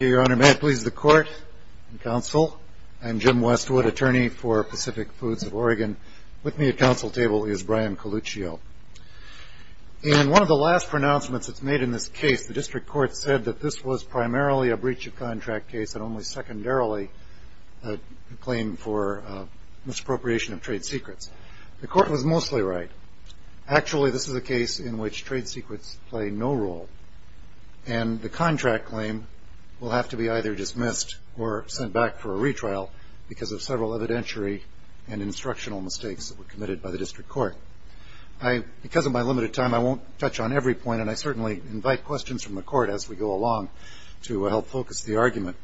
Your Honor, may it please the Court, Counsel, and Jim Westwood, Attorney for Pacific Foods of Oregon. With me at counsel table is Brian Coluccio. In one of the last pronouncements that's made in this case, the District Court said that this was primarily a breach of contract case and only secondarily a claim for misappropriation of trade secrets. The Court was mostly right. Actually, this is a case in which trade secrets play no role. And the contract claim will have to be either dismissed or sent back for a retrial because of several evidentiary and instructional mistakes that were committed by the District Court. Because of my limited time, I won't touch on every point, and I certainly invite questions from the Court as we go along to help focus the argument.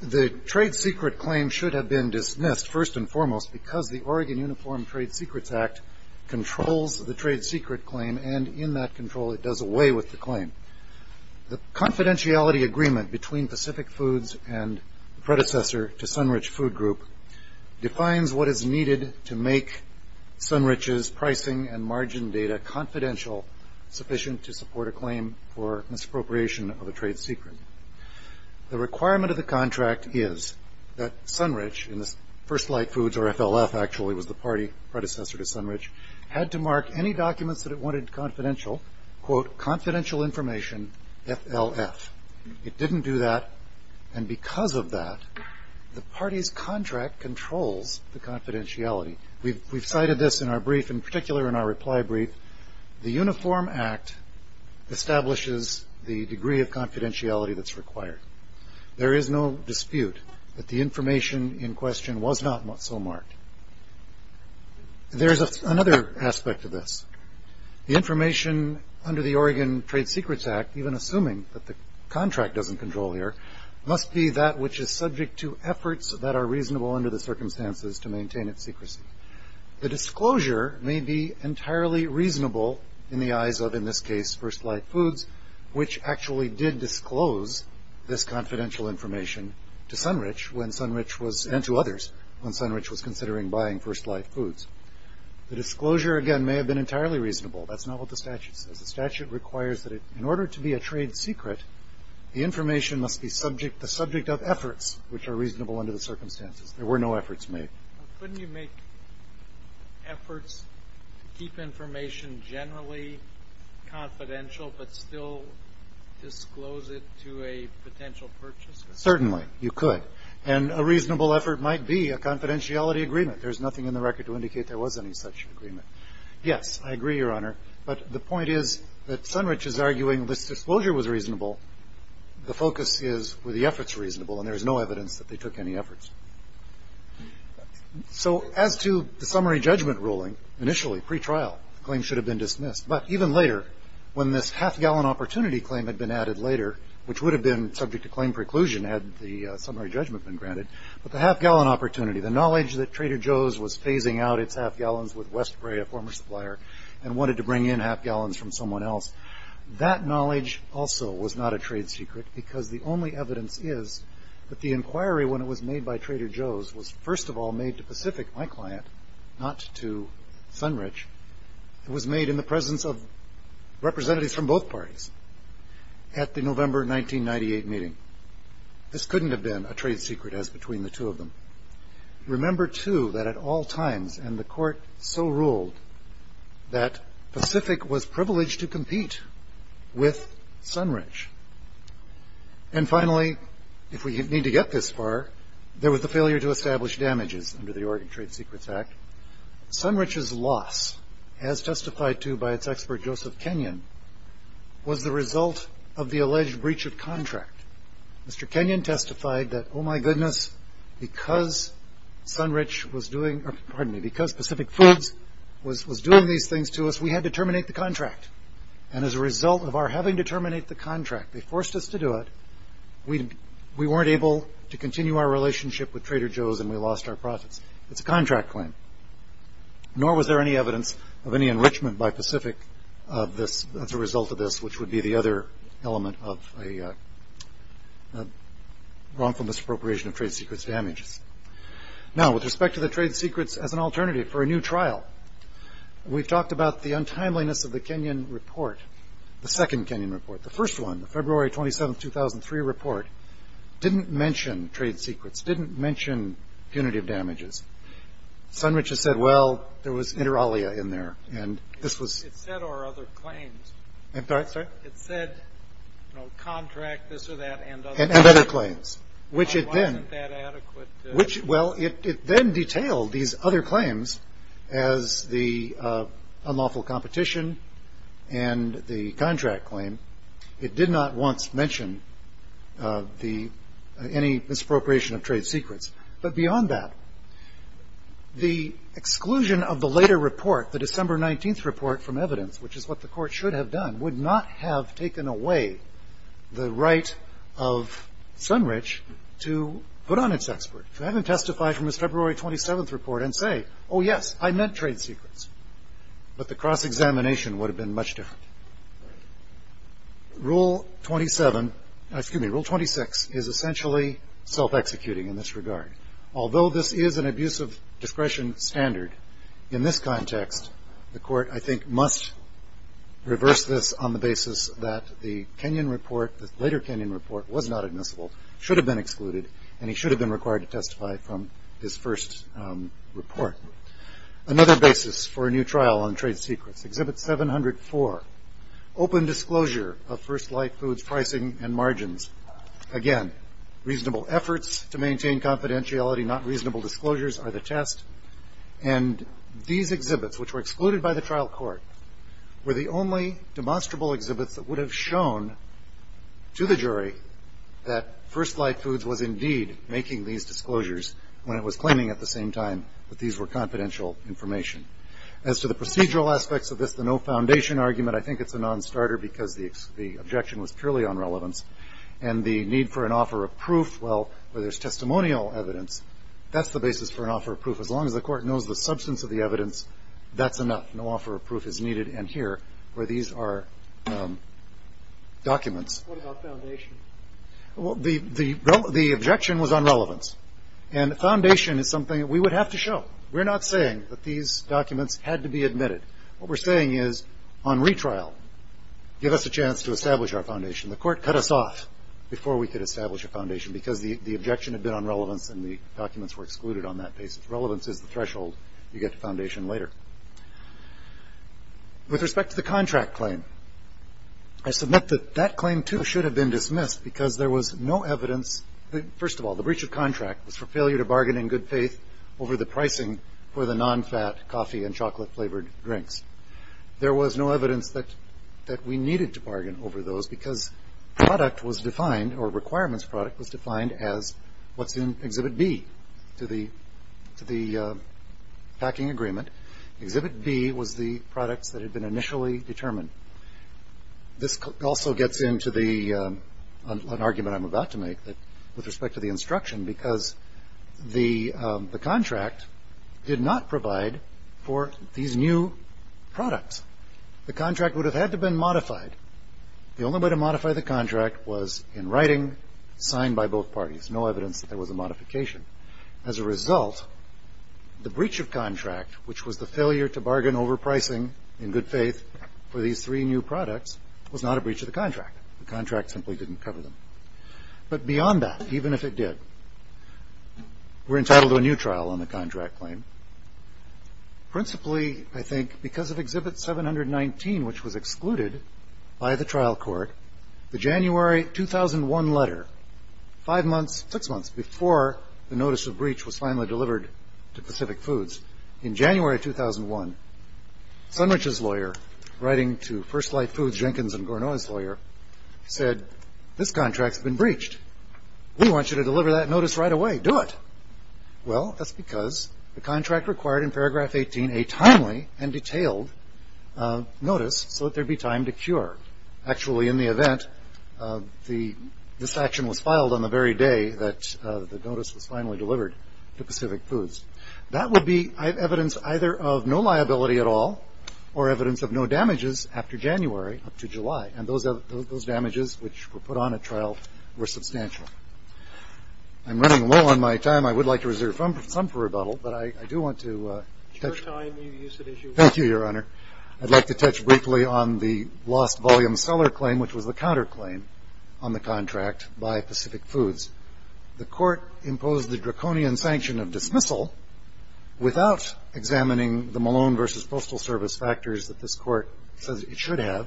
The trade secret claim should have been dismissed, first and foremost, because the Oregon Uniform Trade Secrets Act controls the trade secret claim, and in that control it does away with the claim. The confidentiality agreement between Pacific Foods and the predecessor to Sunrich Food Group defines what is needed to make Sunrich's pricing and margin data confidential, sufficient to support a claim for misappropriation of a trade secret. The requirement of the contract is that Sunrich, and this First Light Foods, or FLF actually, was the party predecessor to Sunrich, had to mark any documents that it wanted confidential, quote, confidential information, FLF. It didn't do that, and because of that, the party's contract controls the confidentiality. We've cited this in our brief, in particular in our reply brief. The Uniform Act establishes the degree of confidentiality that's required. There is no dispute that the information in question was not so marked. There's another aspect to this. The information under the Oregon Trade Secrets Act, even assuming that the contract doesn't control here, must be that which is subject to efforts that are reasonable under the circumstances to maintain its secrecy. The disclosure may be entirely reasonable in the eyes of, in this case, First Light Foods, which actually did disclose this confidential information to Sunrich and to others when Sunrich was considering buying First Light Foods. The disclosure, again, may have been entirely reasonable. That's not what the statute says. The statute requires that in order to be a trade secret, the information must be the subject of efforts which are reasonable under the circumstances. There were no efforts made. Couldn't you make efforts to keep information generally confidential but still disclose it to a potential purchaser? Certainly, you could. And a reasonable effort might be a confidentiality agreement. There's nothing in the record to indicate there was any such agreement. Yes, I agree, Your Honor. But the point is that Sunrich is arguing this disclosure was reasonable. The focus is were the efforts reasonable, and there is no evidence that they took any efforts. So as to the summary judgment ruling, initially, pretrial, the claim should have been dismissed. But even later, when this half-gallon opportunity claim had been added later, which would have been subject to claim preclusion had the summary judgment been granted, but the half-gallon opportunity, the knowledge that Trader Joe's was phasing out its half-gallons with West Prairie, a former supplier, and wanted to bring in half-gallons from someone else, that knowledge also was not a trade secret because the only evidence is that the inquiry, when it was made by Trader Joe's, was first of all made to Pacific, my client, not to Sunrich. It was made in the presence of representatives from both parties at the November 1998 meeting. This couldn't have been a trade secret as between the two of them. Remember, too, that at all times, and the Court so ruled, that Pacific was privileged to compete with Sunrich. And finally, if we need to get this far, there was the failure to establish damages under the Oregon Trade Secrets Act. Sunrich's loss, as testified to by its expert Joseph Kenyon, was the result of the alleged breach of contract. Mr. Kenyon testified that, oh, my goodness, because Pacific Foods was doing these things to us, we had to terminate the contract. And as a result of our having to terminate the contract, they forced us to do it, we weren't able to continue our relationship with Trader Joe's, and we lost our profits. It's a contract claim. Nor was there any evidence of any enrichment by Pacific as a result of this, which would be the other element of a wrongful misappropriation of trade secrets damages. Now, with respect to the trade secrets as an alternative for a new trial, we've talked about the untimeliness of the Kenyon report, the second Kenyon report. The first one, the February 27, 2003 report, didn't mention trade secrets, didn't mention punitive damages. Sunrich has said, well, there was inter alia in there, and this was- It said our other claims. Sorry? It said contract, this or that, and other claims. And other claims, which it then- It wasn't that adequate to- Well, it then detailed these other claims as the unlawful competition and the contract claim. It did not once mention any misappropriation of trade secrets. But beyond that, the exclusion of the later report, the December 19th report from evidence, which is what the court should have done, would not have taken away the right of Sunrich to put on its expert. To have him testify from his February 27th report and say, oh, yes, I meant trade secrets. But the cross-examination would have been much different. Rule 27- Excuse me, Rule 26 is essentially self-executing in this regard. Although this is an abuse of discretion standard, in this context, the court, I think, must reverse this on the basis that the Kenyon report, the later Kenyon report, was not admissible, should have been excluded, and he should have been required to testify from his first report. Another basis for a new trial on trade secrets, Exhibit 704, open disclosure of First Light Foods pricing and margins. Again, reasonable efforts to maintain confidentiality, not reasonable disclosures are the test. And these exhibits, which were excluded by the trial court, were the only demonstrable exhibits that would have shown to the jury that First Light Foods was indeed making these disclosures when it was claiming at the same time that these were confidential information. As to the procedural aspects of this, the no foundation argument, I think it's a nonstarter because the objection was purely on relevance. And the need for an offer of proof, well, where there's testimonial evidence, that's the basis for an offer of proof. As long as the court knows the substance of the evidence, that's enough. No offer of proof is needed. And here, where these are documents. What about foundation? Well, the objection was on relevance. And the foundation is something that we would have to show. We're not saying that these documents had to be admitted. What we're saying is, on retrial, give us a chance to establish our foundation. The court cut us off before we could establish a foundation because the objection had been on relevance and the documents were excluded on that basis. Relevance is the threshold you get to foundation later. With respect to the contract claim, I submit that that claim, too, should have been dismissed because there was no evidence. First of all, the breach of contract was for failure to bargain in good faith over the pricing for the nonfat coffee and chocolate-flavored drinks. There was no evidence that we needed to bargain over those because product was defined, or requirements product, was defined as what's in Exhibit B to the packing agreement. Exhibit B was the products that had been initially determined. This also gets into an argument I'm about to make with respect to the instruction because the contract did not provide for these new products. The only way to modify the contract was in writing, signed by both parties. No evidence that there was a modification. As a result, the breach of contract, which was the failure to bargain over pricing in good faith for these three new products, was not a breach of the contract. The contract simply didn't cover them. But beyond that, even if it did, we're entitled to a new trial on the contract claim, principally, I think, because of Exhibit 719, which was excluded by the trial court. The January 2001 letter, five months, six months, before the notice of breach was finally delivered to Pacific Foods, in January 2001, Sunrich's lawyer, writing to First Light Foods Jenkins and Gournoyd's lawyer, said, this contract's been breached. We want you to deliver that notice right away. Do it. Well, that's because the contract required in paragraph 18 a timely and detailed notice so that there'd be time to cure. Actually, in the event, this action was filed on the very day that the notice was finally delivered to Pacific Foods. That would be evidence either of no liability at all or evidence of no damages after January up to July. And those damages, which were put on at trial, were substantial. I'm running low on my time. I would like to reserve some for rebuttal. But I do want to touch briefly on the lost volume seller claim, which was the counterclaim on the contract by Pacific Foods. The Court imposed the draconian sanction of dismissal without examining the Malone v. Postal Service factors that this Court says it should have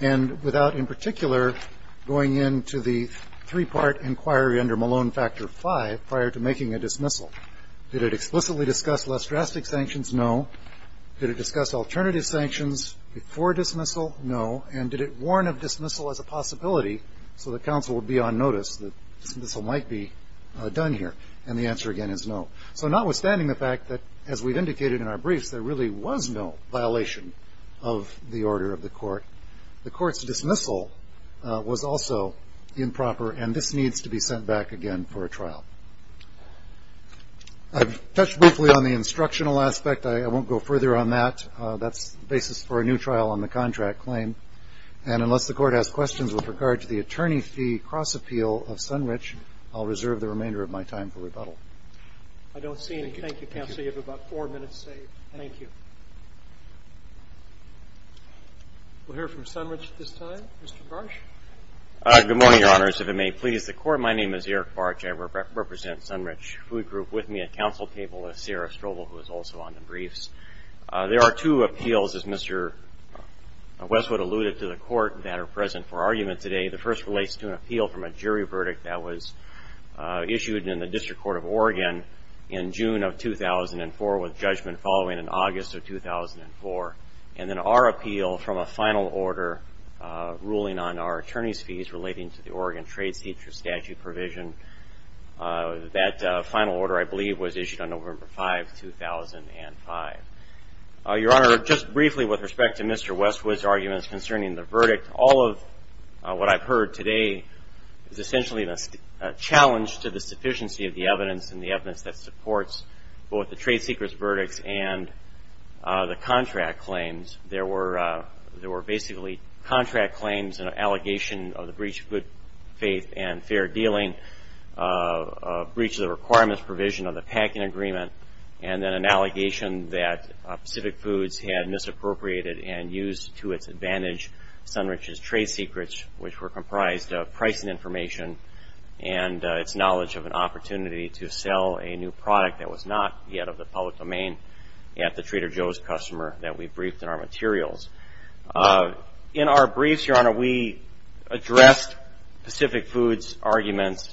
And without in particular going into the three-part inquiry under Malone Factor V prior to making a dismissal. Did it explicitly discuss less drastic sanctions? No. Did it discuss alternative sanctions before dismissal? No. And did it warn of dismissal as a possibility so that counsel would be on notice that dismissal might be done here? And the answer again is no. So notwithstanding the fact that, as we've indicated in our briefs, there really was no violation of the order of the Court, the Court's dismissal was also improper, and this needs to be sent back again for a trial. I've touched briefly on the instructional aspect. I won't go further on that. That's the basis for a new trial on the contract claim. And unless the Court has questions with regard to the attorney fee cross-appeal of Sunrich, I'll reserve the remainder of my time for rebuttal. I don't see any. Thank you, counsel. You have about four minutes saved. Thank you. We'll hear from Sunrich at this time. Mr. Barch. Good morning, Your Honors. If it may please the Court, my name is Eric Barch. I represent Sunrich Food Group with me at counsel table with Sarah Strobel, who is also on the briefs. There are two appeals, as Mr. Westwood alluded to, to the Court that are present for argument today. The first relates to an appeal from a jury verdict that was issued in the District Court of Oregon in June of 2004 with judgment following in August of 2004. And then our appeal from a final order ruling on our attorney's fees relating to the Oregon Trade Seizure Statute provision. That final order, I believe, was issued on November 5, 2005. Your Honor, just briefly with respect to Mr. Westwood's arguments concerning the verdict, all of what I've heard today is essentially a challenge to the sufficiency of the evidence and the evidence that supports both the trade secrets verdicts and the contract claims. There were basically contract claims, an allegation of the breach of good faith and fair dealing, a breach of the requirements provision of the packing agreement, and then an allegation that Pacific Foods had misappropriated and used to its advantage Sunrich's trade secrets, which were comprised of pricing information and its knowledge of an opportunity to sell a new product that was not yet of the public domain at the Trader Joe's customer that we briefed in our materials. In our briefs, Your Honor, we addressed Pacific Foods' arguments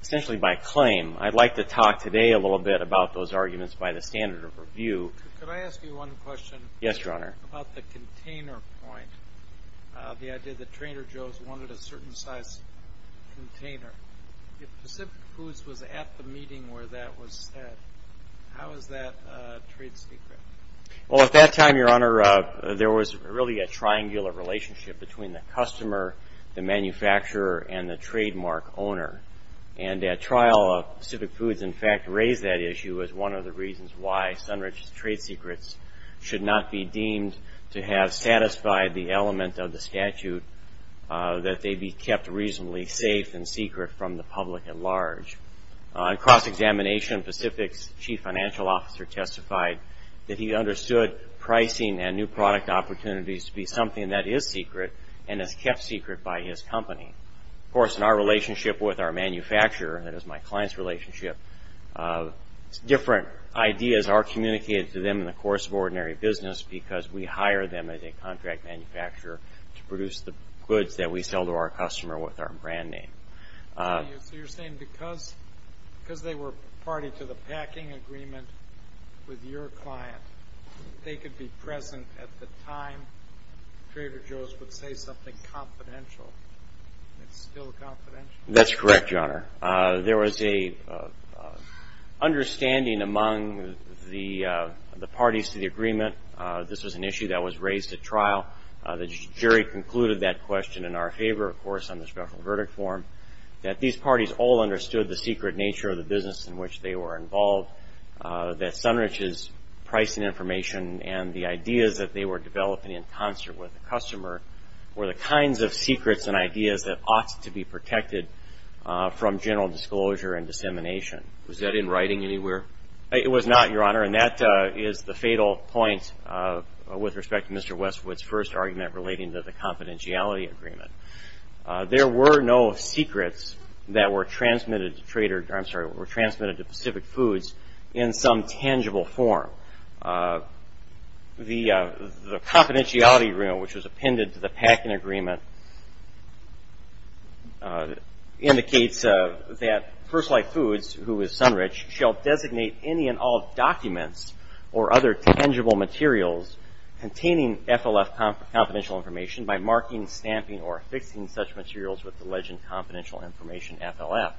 essentially by claim. I'd like to talk today a little bit about those arguments by the standard of review. Could I ask you one question? Yes, Your Honor. About the container point, the idea that Trader Joe's wanted a certain size container. If Pacific Foods was at the meeting where that was said, how is that a trade secret? Well, at that time, Your Honor, there was really a triangular relationship between the customer, the manufacturer, and the trademark owner. And at trial, Pacific Foods, in fact, raised that issue as one of the reasons why Sunrich's trade secrets should not be deemed to have satisfied the element of the statute that they be kept reasonably safe and secret from the public at large. On cross-examination, Pacific's chief financial officer testified that he understood pricing and new product opportunities to be something that is secret and is kept secret by his company. Of course, in our relationship with our manufacturer, that is my client's relationship, different ideas are communicated to them in the course of ordinary business because we hire them as a contract manufacturer to produce the goods that we sell to our customer with our brand name. So you're saying because they were party to the packing agreement with your client, they could be present at the time Trader Joe's would say something confidential, and it's still confidential? That's correct, Your Honor. There was an understanding among the parties to the agreement. This was an issue that was raised at trial. The jury concluded that question in our favor, of course, on the special verdict form, that these parties all understood the secret nature of the business in which they were involved, that Sunrich's pricing information and the ideas that they were developing in concert with the customer were the kinds of secrets and ideas that ought to be protected from general disclosure and dissemination. Was that in writing anywhere? It was not, Your Honor, and that is the fatal point with respect to Mr. Westwood's first argument relating to the confidentiality agreement. There were no secrets that were transmitted to Pacific Foods in some tangible form. The confidentiality agreement, which was appended to the packing agreement, indicates that First Life Foods, who is Sunrich, shall designate any and all documents or other tangible materials containing FLF confidential information by marking, stamping, or affixing such materials with the legend confidential information FLF.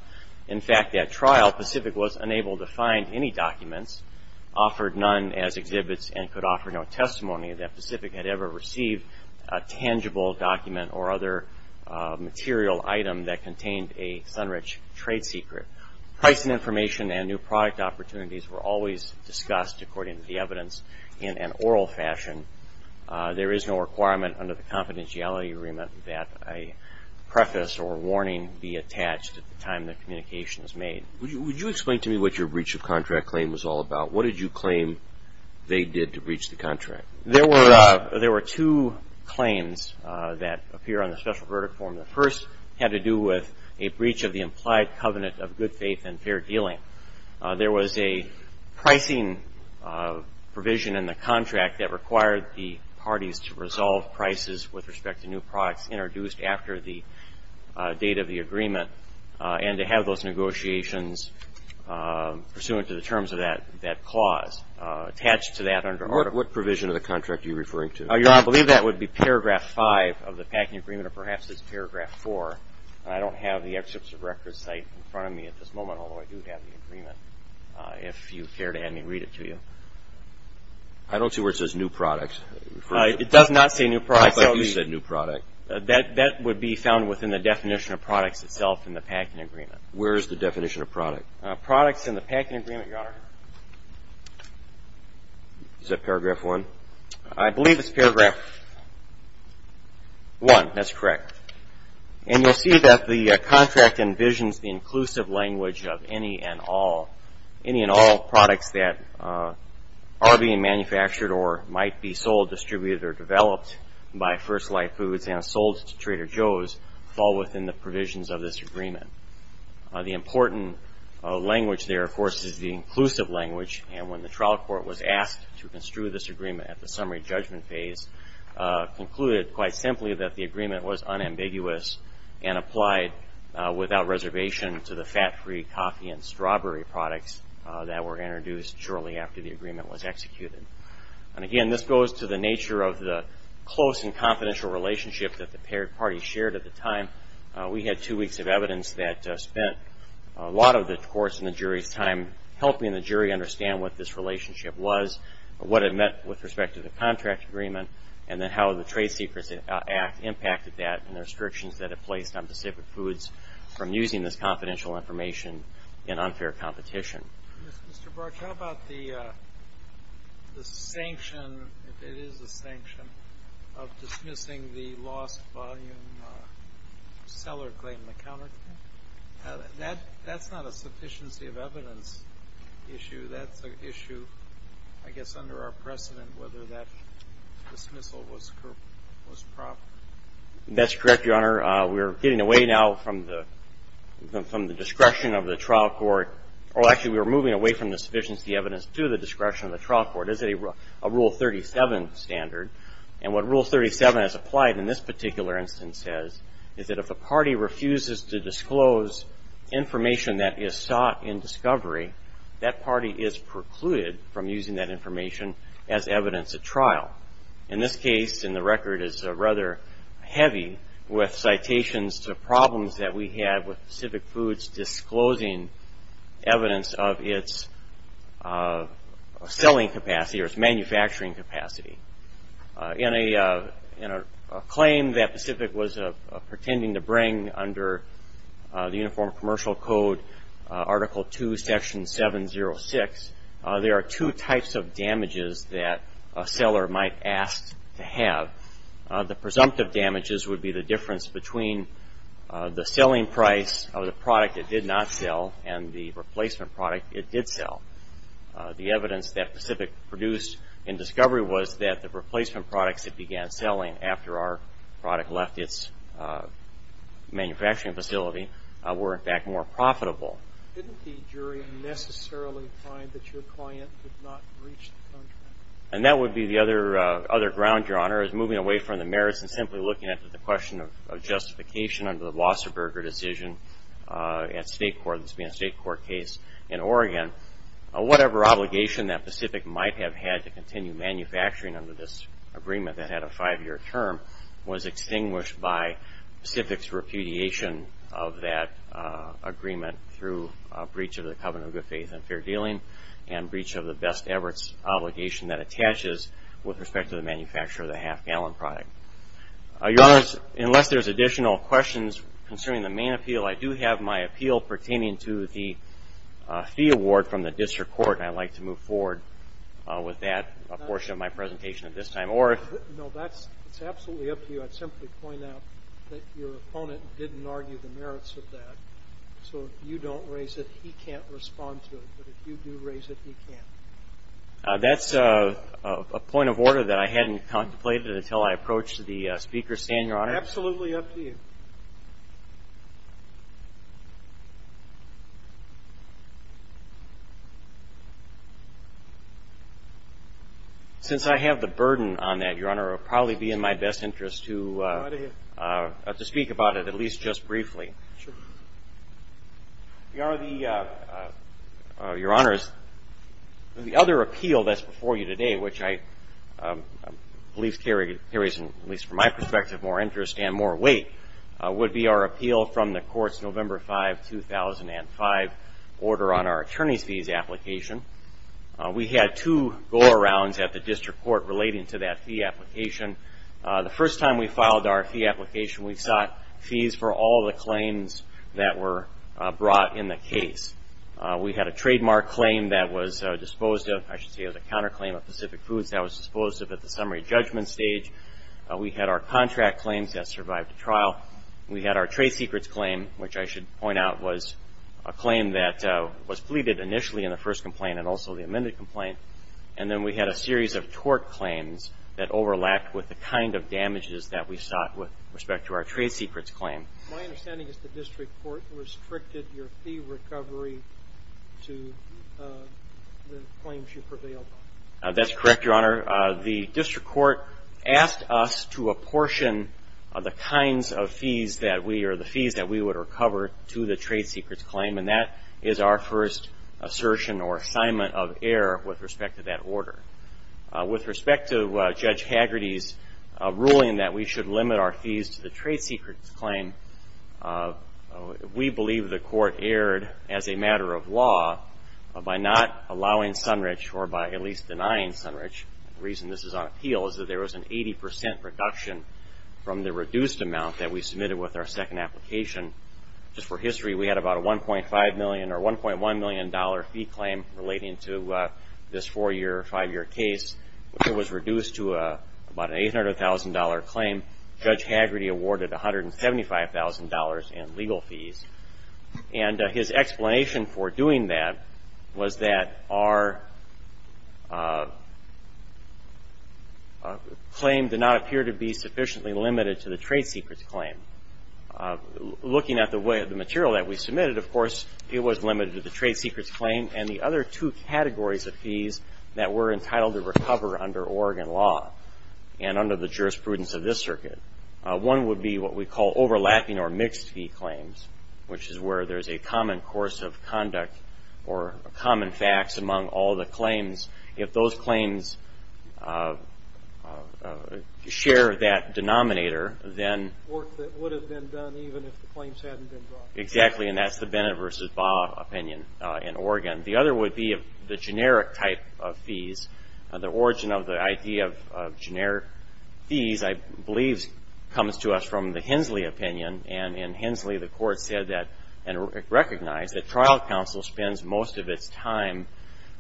In fact, at trial, Pacific was unable to find any documents offered none as exhibits and could offer no testimony that Pacific had ever received a tangible document or other material item that contained a Sunrich trade secret. Pricing information and new product opportunities were always discussed, according to the evidence, in an oral fashion. There is no requirement under the confidentiality agreement that a preface or warning be attached at the time the communication is made. Would you explain to me what your breach of contract claim was all about? What did you claim they did to breach the contract? There were two claims that appear on the special verdict form. The first had to do with a breach of the implied covenant of good faith and fair dealing. There was a pricing provision in the contract that required the parties to resolve prices with respect to new products introduced after the date of the agreement and to have those negotiations pursuant to the terms of that clause attached to that under article. What provision of the contract are you referring to? I believe that would be paragraph 5 of the packing agreement or perhaps it's paragraph 4. I don't have the excerpts of records cited in front of me at this moment, although I do have the agreement if you care to have me read it to you. I don't see where it says new products. It does not say new products. I thought you said new product. That would be found within the definition of products itself in the packing agreement. Where is the definition of product? Products in the packing agreement, Your Honor. Is that paragraph 1? I believe it's paragraph 1. That's correct. And you'll see that the contract envisions the inclusive language of any and all products that are being manufactured or might be sold, distributed, or developed by First Life Foods and sold to Trader Joe's fall within the provisions of this agreement. The important language there, of course, is the inclusive language, and when the trial court was asked to construe this agreement at the summary judgment phase, concluded quite simply that the agreement was unambiguous and applied without reservation to the fat-free coffee and strawberry products that were introduced shortly after the agreement was executed. And again, this goes to the nature of the close and confidential relationship that the paired parties shared at the time. We had two weeks of evidence that spent a lot of the course in the jury's time helping the jury understand what this relationship was, what it meant with respect to the contract agreement, and then how the Trade Secrets Act impacted that and the restrictions that it placed on Pacific Foods from using this confidential information in unfair competition. Mr. Barch, how about the sanction, if it is a sanction, of dismissing the lost volume seller claim in the counterclaim? That's not a sufficiency of evidence issue. That's an issue, I guess, under our precedent, whether that dismissal was proper. That's correct, Your Honor. We are getting away now from the discretion of the trial court. Actually, we are moving away from the sufficiency of evidence to the discretion of the trial court. It is a Rule 37 standard, and what Rule 37 has applied in this particular instance is that if a party refuses to disclose information that is sought in discovery, that party is precluded from using that information as evidence at trial. In this case, and the record is rather heavy with citations to problems that we had with Pacific Foods disclosing evidence of its selling capacity or its manufacturing capacity. In a claim that Pacific was pretending to bring under the Uniform Commercial Code, Article 2, Section 706, there are two types of damages that a seller might ask to have. The presumptive damages would be the difference between the selling price of the product it did not sell and the replacement product it did sell. The evidence that Pacific produced in discovery was that the replacement products it began selling after our product left its manufacturing facility were, in fact, more profitable. Didn't the jury necessarily find that your client did not reach the contract? That would be the other ground, Your Honor, is moving away from the merits and simply looking at the question of justification under the Wasserberger decision at state court, this being a state court case in Oregon. Whatever obligation that Pacific might have had to continue manufacturing under this agreement that had a five-year term was extinguished by Pacific's repudiation of that agreement through a breach of the covenant of good faith and fair dealing and breach of the best efforts obligation that attaches with respect to the manufacture of the half-gallon product. Unless there's additional questions concerning the main appeal, I do have my appeal pertaining to the fee award from the district court. I'd like to move forward with that portion of my presentation at this time. No, that's absolutely up to you. I'd simply point out that your opponent didn't argue the merits of that, so if you don't raise it, he can't respond to it, but if you do raise it, he can. That's a point of order that I hadn't contemplated until I approached the Speaker's stand, Your Honor. Absolutely up to you. Since I have the burden on that, Your Honor, it would probably be in my best interest to speak about it, at least just briefly. Your Honor, the other appeal that's before you today, which I believe carries, at least from my perspective, more interest and more weight, would be our appeal from the Court's November 5, 2005, order on our attorney's fees application. We had two go-arounds at the district court relating to that fee application. The first time we filed our fee application, we sought fees for all the claims that were brought in the case. We had a trademark claim that was disposed of, I should say, as a counterclaim of Pacific Foods that was disposed of at the summary judgment stage. We had our contract claims that survived the trial. We had our trade secrets claim, which I should point out was a claim that was pleaded initially in the first complaint and also the amended complaint. And then we had a series of tort claims that overlapped with the kind of damages that we sought with respect to our trade secrets claim. My understanding is the district court restricted your fee recovery to the claims you prevailed on. That's correct, Your Honor. The district court asked us to apportion the kinds of fees that we or the fees that we would recover to the trade secrets claim, and that is our first assertion or assignment of error with respect to that order. With respect to Judge Hagerty's ruling that we should limit our fees to the trade secrets claim, we believe the court erred as a matter of law by not allowing sunrich or by at least denying sunrich. The reason this is on appeal is that there was an 80 percent reduction from the reduced amount that we submitted with our second application. Just for history, we had about a $1.5 million or $1.1 million fee claim relating to this four-year, five-year case, which was reduced to about an $800,000 claim. Judge Hagerty awarded $175,000 in legal fees. And his explanation for doing that was that our claim did not appear to be sufficiently limited to the trade secrets claim. Looking at the material that we submitted, of course, it was limited to the trade secrets claim and the other two categories of fees that were entitled to recover under Oregon law and under the jurisprudence of this circuit. One would be what we call overlapping or mixed fee claims, which is where there's a common course of conduct or common facts among all the claims. If those claims share that denominator, then... Work that would have been done even if the claims hadn't been brought. Exactly, and that's the Bennett v. Baugh opinion in Oregon. The other would be the generic type of fees. The origin of the idea of generic fees, I believe, comes to us from the Hensley opinion, and in Hensley, the court said that and recognized that trial counsel spends most of its time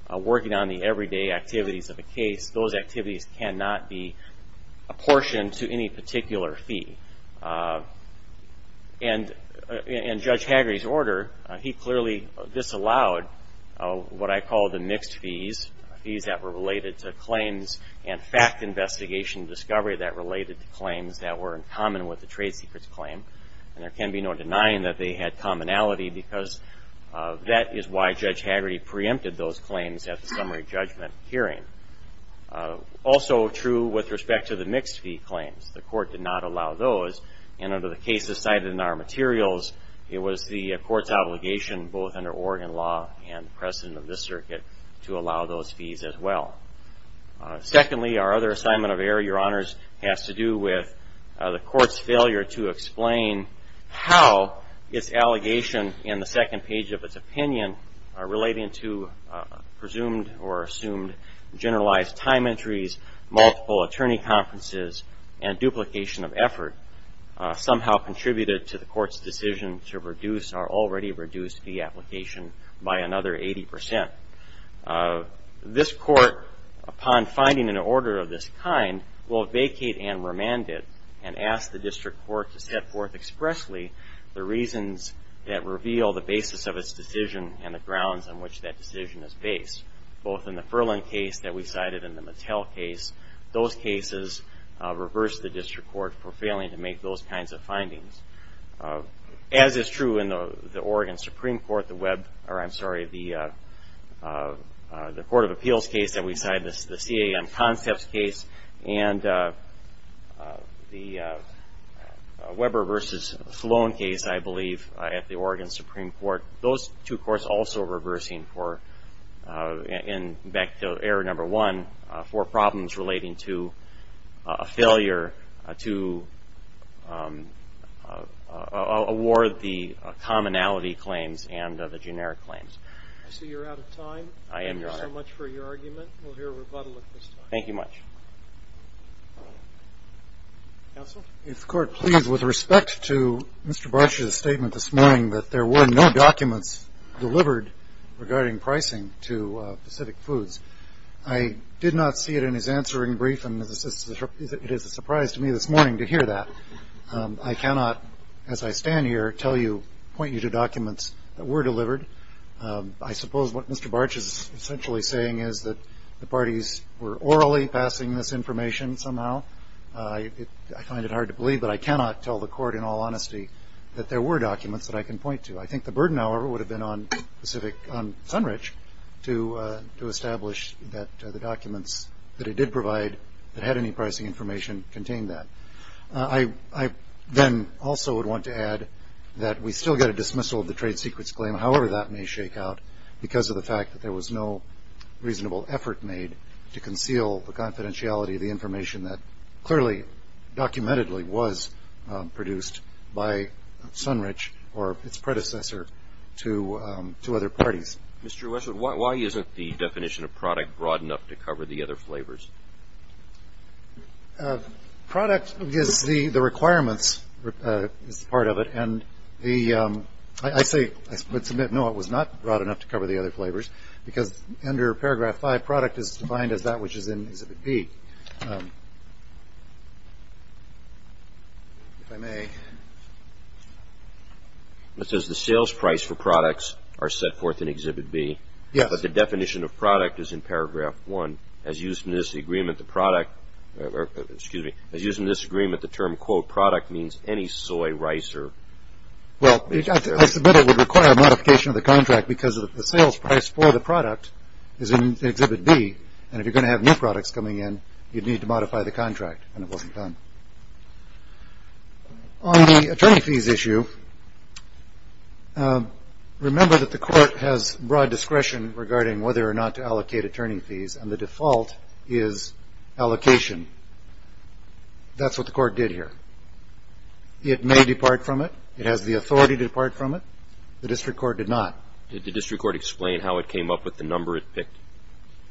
working on the everyday activities of a case. Those activities cannot be apportioned to any particular fee. In Judge Hagerty's order, he clearly disallowed what I call the mixed fees, fees that were related to claims and fact investigation discovery that related to claims that were in common with the trade secrets claim, and there can be no denying that they had commonality because that is why Judge Hagerty preempted those claims at the summary judgment hearing. Also true with respect to the mixed fee claims. The court did not allow those, and under the cases cited in our materials, it was the court's obligation, both under Oregon law and precedent of this circuit, to allow those fees as well. Secondly, our other assignment of error, Your Honors, has to do with the court's failure to explain how its allegation in the second page of its opinion relating to presumed or assumed generalized time entries, multiple attorney conferences, and duplication of effort somehow contributed to the court's decision to reduce our already reduced fee application by another 80%. This court, upon finding an order of this kind, will vacate and remand it and ask the district court to set forth expressly the reasons that reveal the basis of its decision and the grounds on which that decision is based, both in the Furland case that we cited and the Mattel case. Those cases reverse the district court for failing to make those kinds of findings. As is true in the Oregon Supreme Court, the web, or I'm sorry, the Court of Appeals case that we cited, the CAM Concepts case, and the Weber v. Sloan case, I believe, at the Oregon Supreme Court. Those two courts also reversing for, and back to error number one, for problems relating to a failure to award the commonality claims and the generic claims. I see you're out of time. I am, Your Honor. Thank you so much for your argument. We'll hear a rebuttal at this time. Thank you much. Counsel? If the Court please, with respect to Mr. Bartsch's statement this morning that there were no documents delivered regarding pricing to Pacific Foods, I did not see it in his answering brief, and it is a surprise to me this morning to hear that. I cannot, as I stand here, point you to documents that were delivered. I suppose what Mr. Bartsch is essentially saying is that the parties were orally passing this information somehow. I find it hard to believe, but I cannot tell the Court in all honesty that there were documents that I can point to. I think the burden, however, would have been on Pacific, on Sunrich, to establish that the documents that it did provide that had any pricing information contained that. I then also would want to add that we still get a dismissal of the trade secrets claim, however that may shake out because of the fact that there was no reasonable effort made to conceal the confidentiality of the information that clearly, documentedly, was produced by Sunrich or its predecessor to other parties. Mr. Westwood, why isn't the definition of product broad enough to cover the other flavors? Product is the requirements, is part of it, and I say, I submit, no, it was not broad enough to cover the other flavors because under paragraph 5, product is defined as that which is in Exhibit B. If I may. It says the sales price for products are set forth in Exhibit B. Yes. But the definition of product is in paragraph 1. As used in this agreement, the product, excuse me, as used in this agreement, the term, quote, product means any soy, rice, or… Well, I submit it would require a modification of the contract because the sales price for the product is in Exhibit B, and if you're going to have new products coming in, you'd need to modify the contract, and it wasn't done. On the attorney fees issue, remember that the court has broad discretion regarding whether or not to allocate attorney fees, and the default is allocation. That's what the court did here. It may depart from it. It has the authority to depart from it. The district court did not. Did the district court explain how it came up with the number it picked?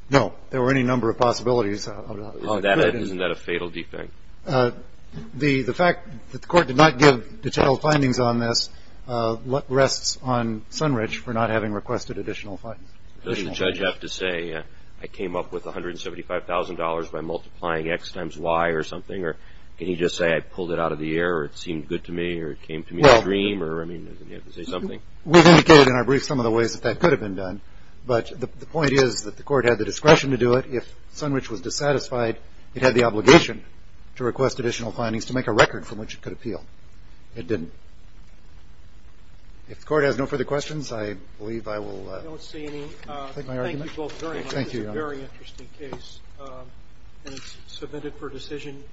No. There were any number of possibilities. Isn't that a fatal defect? The fact that the court did not give detailed findings on this rests on Sunridge for not having requested additional findings. Does the judge have to say I came up with $175,000 by multiplying X times Y or something, or can he just say I pulled it out of the air, or it seemed good to me, or it came to me in a dream, or does he have to say something? We've indicated in our brief some of the ways that that could have been done, but the point is that the court had the discretion to do it. If Sunridge was dissatisfied, it had the obligation to request additional findings to make a record from which it could appeal. It didn't. If the court has no further questions, I believe I will take my argument. I don't see any. Thank you both very much. Thank you, Your Honor. This is a very interesting case, and it's submitted for decision.